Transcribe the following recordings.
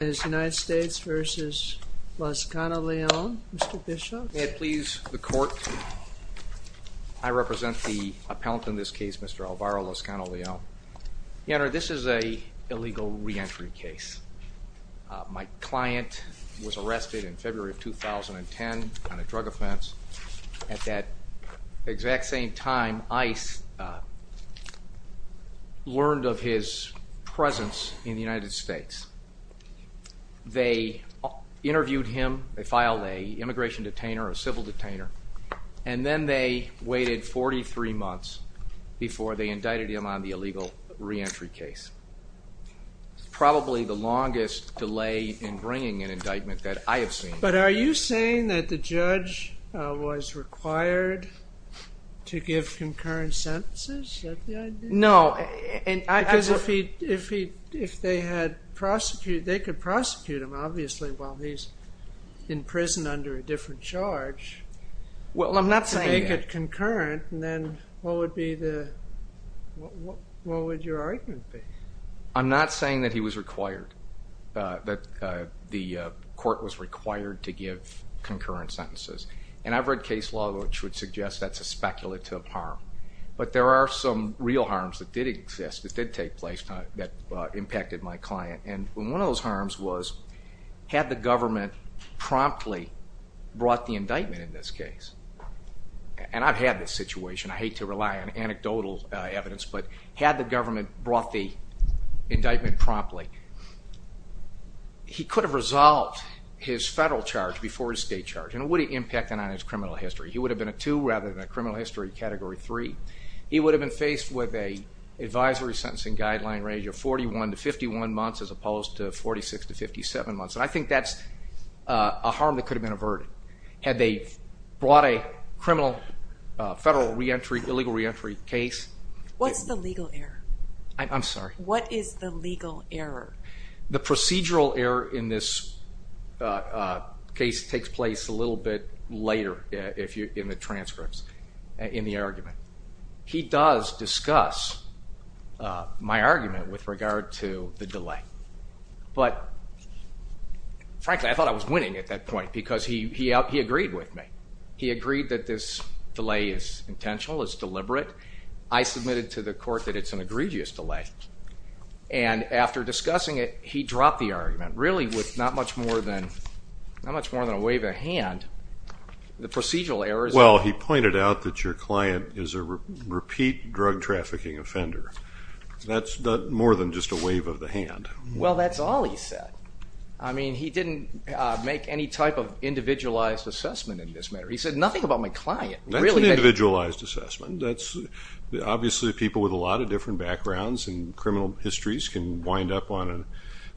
United States v. Lazcano-Leon, Mr. Bishop. May it please the court, I represent the appellant in this case, Mr. Alvaro Lazcano-Leon. Your Honor, this is a illegal re-entry case. My client was arrested in February of 2010 on a drug offense. At that exact same time, ICE learned of his presence in the United States. They interviewed him, they filed an immigration detainer or civil detainer, and then they waited 43 months before they indicted him on the illegal re-entry case. Probably the longest delay in bringing an indictment that I have seen. But are you saying that the judge was required to give concurrent sentences? No. Because if he, if he, if they had prosecuted, they could prosecute him, obviously, while he's in prison under a different charge. Well, I'm not saying it concurrent, and then what would be the, what would your argument be? I'm not saying that he was required, that the court was required to give concurrent sentences. And I've read case law which would suggest that's a speculative harm. But there are some real harms that did exist, that did take place, that impacted my client. And one of those harms was, had the government promptly brought the indictment in this case, and I've had this situation, I hate to rely on anecdotal evidence, but had the government brought the indictment promptly, he could have resolved his federal charge before his state charge. And what impact on his criminal history? He would have been a two rather than a criminal history category three. He would have been faced with a advisory sentencing guideline range of 41 to 51 months as opposed to 46 to 57 months. And I think that's a harm that could have been averted had they brought a criminal federal re-entry, illegal re-entry case. What's the legal error? I'm sorry. What is the legal error? The procedural error in this case takes place a little bit later in the transcripts, in the argument. He does discuss my argument with regard to the delay. But frankly, I thought I was winning at that point because he agreed with me. He agreed that this delay is intentional, it's deliberate. I submitted to the court that it's an egregious delay. And after discussing it, he dropped the argument. Really, with not much more than a wave of a hand, the procedural error is... Well, he pointed out that your client is a repeat drug trafficking offender. That's more than just a wave of the hand. Well, that's all he said. I mean, he didn't make any type of individualized assessment in this matter. He said nothing about my client. That's an individualized assessment. That's... Obviously, people with a lot of different backgrounds and criminal histories can wind up on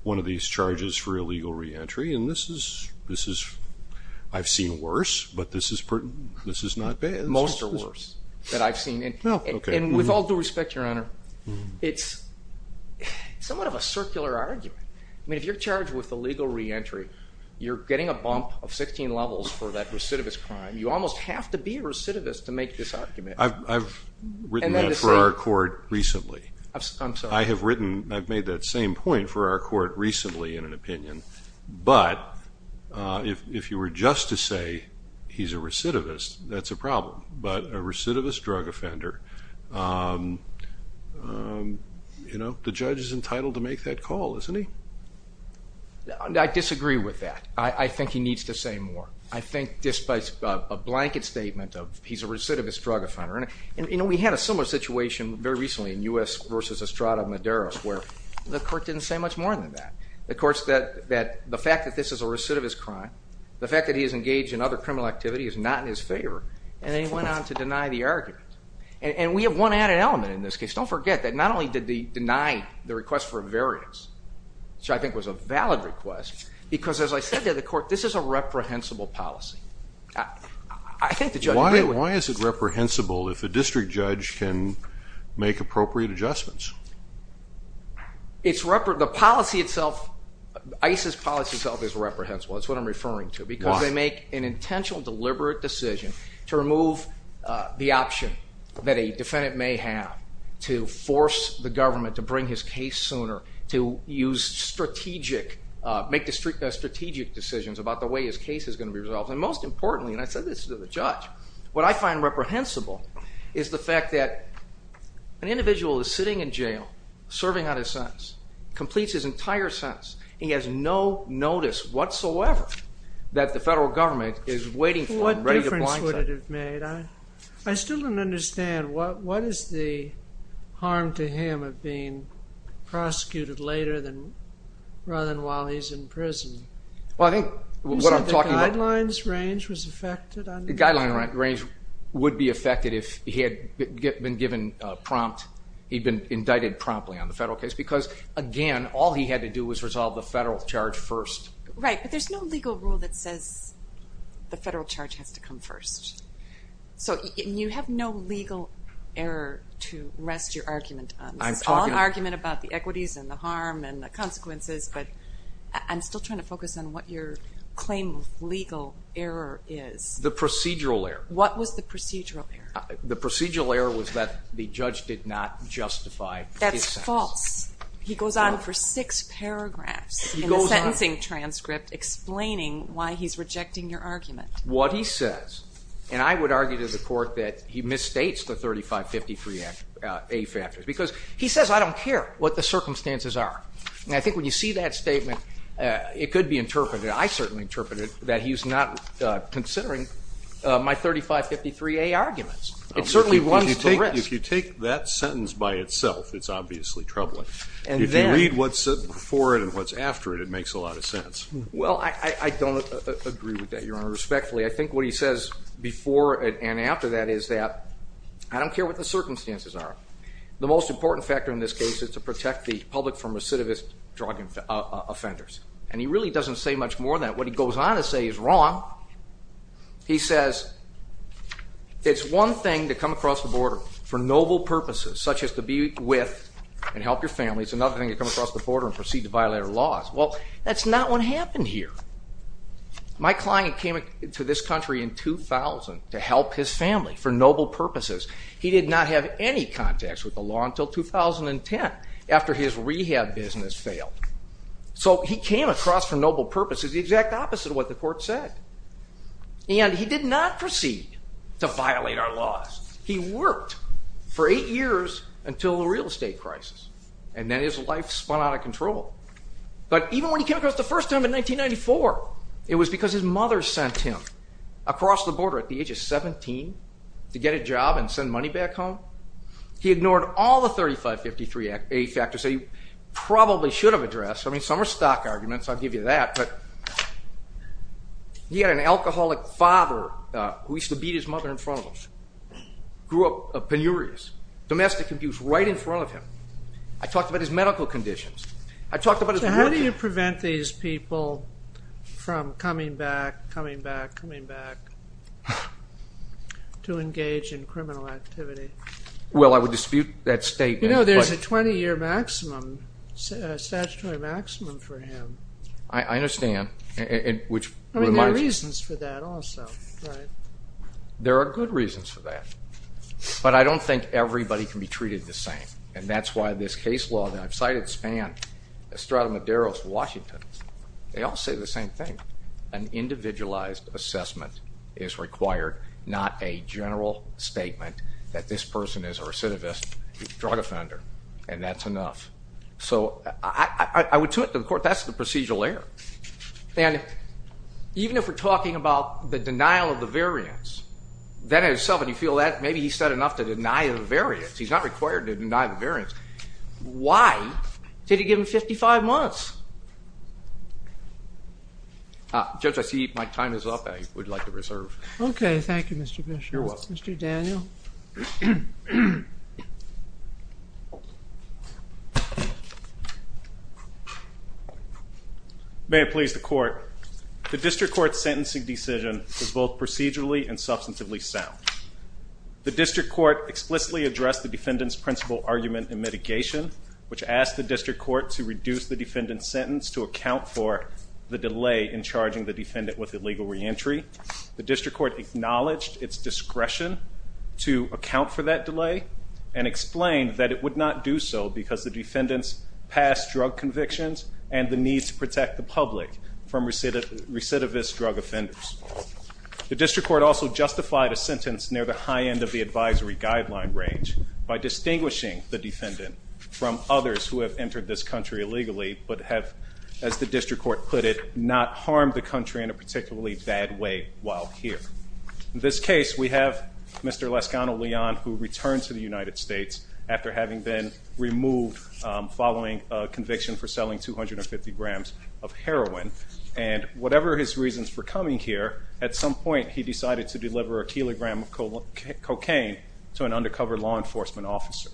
one of these charges for illegal re-entry. And this is... I've seen worse, but this is not bad. Most are worse that I've seen. And with all due respect, Your Honor, it's somewhat of a circular argument. I mean, if you're charged with illegal re-entry, you're getting a bump of 16 levels for that recidivist crime. You almost have to be a recidivist to make this argument. I've written that for our court recently. I'm sorry. I have written... I've made that same point for our court recently in an opinion. But if you were just to say, he's a recidivist, that's a problem. But a recidivist drug offender, the judge is entitled to make that call, isn't he? I disagree with that. I think he needs to say more. I think, despite a blanket statement of, he's a recidivist drug offender... And we had a similar situation very recently in U.S. versus Estrada Maderas, where the court didn't say much more than that. The court said that the fact that this is a recidivist crime, the fact that he is engaged in other criminal activity is not in his favor, and then he went on to deny the argument. And we have one added element in this case. Don't forget that not only did he deny the request for a variance, which I think was a valid request, because as I said to the court, this is a reprehensible policy. I think the judge... Why is it that the judge can make appropriate adjustments? The policy itself, ICE's policy itself is reprehensible. That's what I'm referring to. Why? Because they make an intentional, deliberate decision to remove the option that a defendant may have to force the government to bring his case sooner, to use strategic... Make strategic decisions about the way his case is gonna be resolved. And most importantly, and I said this to the judge, what I find reprehensible is the fact that an individual is sitting in jail, serving on his sentence, completes his entire sentence, and he has no notice whatsoever that the federal government is waiting for him, ready to blindside him. What difference would it have made? I still don't understand. What is the harm to him of being prosecuted later rather than while he's in prison? Well, I think what I'm talking about... You said the guidelines range was affected on... The guideline range would be affected if he had been given a prompt, he'd been indicted promptly on the federal case, because again, all he had to do was resolve the federal charge first. Right, but there's no legal rule that says the federal charge has to come first. So you have no legal error to rest your argument on. This is all an argument about the equities and the harm and the consequences, but I'm still trying to focus on what your claim of legal error is. The procedural error. What was the procedural error? The procedural error was that the judge did not justify his sentence. That's false. He goes on for six paragraphs in the sentencing transcript explaining why he's rejecting your argument. What he says, and I would argue to the court that he misstates the 3553A factors, because he says, I don't care what the circumstances are. And I think when you see that statement, it could be interpreted, I certainly interpreted, that he's not considering my 3553A arguments. It certainly runs the risk. If you take that sentence by itself, it's obviously troubling. If you read what's before it and what's after it, it makes a lot of sense. Well, I don't agree with that, Your Honor, respectfully. I think what he says before and after that is that, I don't care what the circumstances are. The most important factor in this case is to protect the public from recidivist drug offenders. And he really doesn't say much more than that. What he goes on to say is wrong. He says, it's one thing to come across the border for noble purposes, such as to be with and help your family. It's another thing to come across the border and proceed to violate our laws. Well, that's not what happened here. My client came to this country in 2000 to help his family for noble purposes. He did not have any contacts with the law until 2010 after his rehab business failed. So he came across, for noble purposes, the exact opposite of what the court said. And he did not proceed to violate our laws. He worked for eight years until the real estate crisis. And then his life spun out of control. But even when he came across the first time in 1994, it was because his mother sent him across the border at the age of 17 to get a job and send money back home. He ignored all the 3553A factors that he probably should have addressed. I mean, some are stock arguments. I'll give you that. But he had an alcoholic father who used to beat his mother in front of him. Grew up penurious. Domestic abuse right in front of him. I talked about his medical conditions. I talked about his work experience. How do you prevent these people from coming back, coming back, coming back to engage in criminal activity? Well, I would dispute that statement. You know, there's a 20-year statutory maximum for him. I understand. There are reasons for that also, right? There are good reasons for that. But I don't think everybody can be treated the same. And that's why this case law that I've cited spanned Estrada Medeiros, Washington. They all say the same thing. An individualized assessment is required, not a general statement that this person is a recidivist drug offender. And that's enough. So I would to it to the court, that's the procedural error. And even if we're talking about the denial of the variance, that in itself, and you feel that, maybe he's said enough to deny the variance. He's not required to deny the variance. Why did he give him 55 months? Judge, I see my time is up. I would like to reserve. Okay, thank you, Mr. Bishop. You're welcome. Mr. Daniel. May it please the court. The district court's sentencing decision was both procedurally and substantively sound. The district court explicitly addressed the defendant's principle argument in mitigation, which asked the district court to reduce the defendant's sentence to account for the delay in charging the defendant with illegal reentry. The district court acknowledged its discretion to account for that delay, and explained that it would not do so because the defendant's past drug convictions and the need to protect the public from recidivist drug offenders. The district court also justified a sentence near the high end of the advisory guideline range by distinguishing the defendant from others who have entered this country illegally, but have, as the district court put it, not harmed the country in a particularly bad way while here. In this case, we have Mr. Lascano-Leon who returned to the United States after having been removed following a conviction for selling 250 grams of heroin. And whatever his reasons for coming here, at some point he decided to deliver a kilogram of cocaine to an undercover law enforcement officer.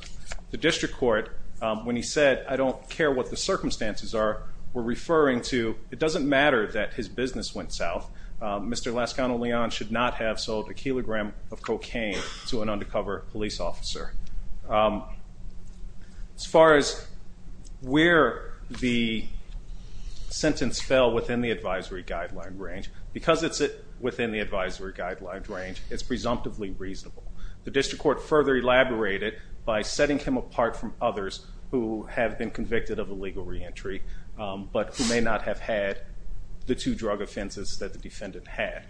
The district court, when he said, I don't care what the circumstances are, were referring to, it doesn't matter that his business went south. Mr. Lascano-Leon should not have sold a kilogram of cocaine to an undercover police officer. As far as where the sentence fell within the advisory guideline range, because it's within the advisory guideline range, it's presumptively reasonable. The district court further elaborated by setting him apart from others who have been convicted of illegal reentry, but who may not have had the two drug offenses that the defendant had.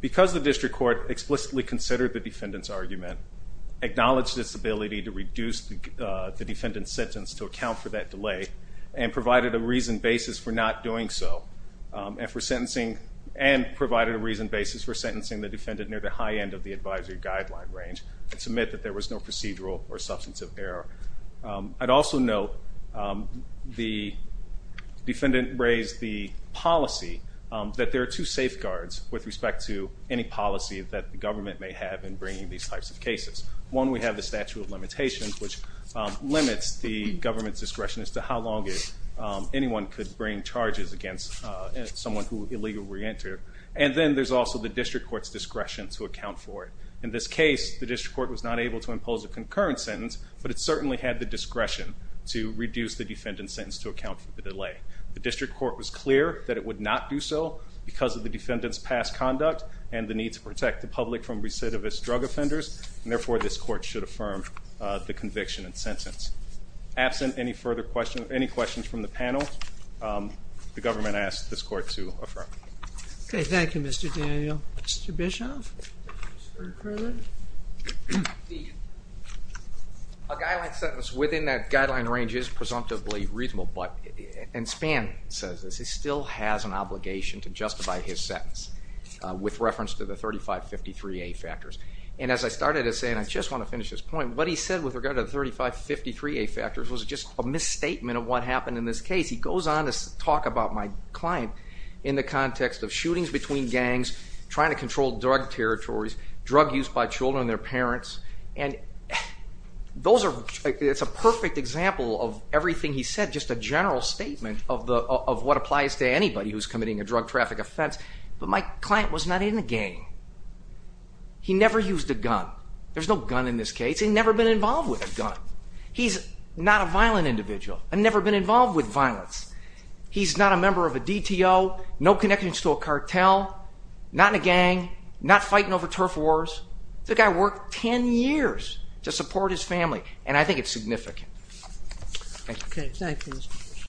Because the district court explicitly considered the defendant's argument, acknowledged its ability to reduce the defendant's sentence to account for that delay, and provided a reasoned basis for not doing so, and provided a reasoned basis for sentencing the defendant near the high end of the advisory guideline range, it's admitted that there was no procedural or substantive error. I'd also note the defendant raised the policy that there are two safeguards with respect to any policy that the government may have in bringing these types of cases. One, we have the statute of limitations, which limits the government's discretion as to how long anyone could bring charges against someone who would illegally reenter. And then there's also the district court's discretion to account for it. In this case, the district court was not able to impose a concurrent sentence, but it certainly had the discretion to reduce the defendant's sentence to account for the delay. The district court was clear that it would not do so because of the defendant's past conduct and the need to protect the public from recidivist drug offenders, and therefore this court should affirm the conviction and sentence. Absent any further questions, any questions from the panel, the government asks this court to affirm. Okay, thank you Mr. Daniel. Mr. Bischoff? Mr. Carlin? A guideline sentence within that guideline range is presumptively reasonable, and Spann says this, he still has an obligation to justify his sentence with reference to the 3553A factors. And as I started to say, and I just want to finish this point, what he said with regard to the 3553A factors was just a misstatement of what happened in this case. He goes on to talk about my client in the context of shootings between gangs, trying to control drug territories, drug use by children and their parents, and it's a perfect example of everything he said, just a general statement of what applies to anybody who's committing a drug traffic offense, but my client was not in a gang. He never used a gun. There's no gun in this case. He's never been involved with a gun. He's not a violent individual. I've never been involved with violence. He's not a member of a DTO, no connections to a cartel, not in a gang, not fighting over turf wars. This guy worked 10 years to support his family, and I think it's significant. Thank you.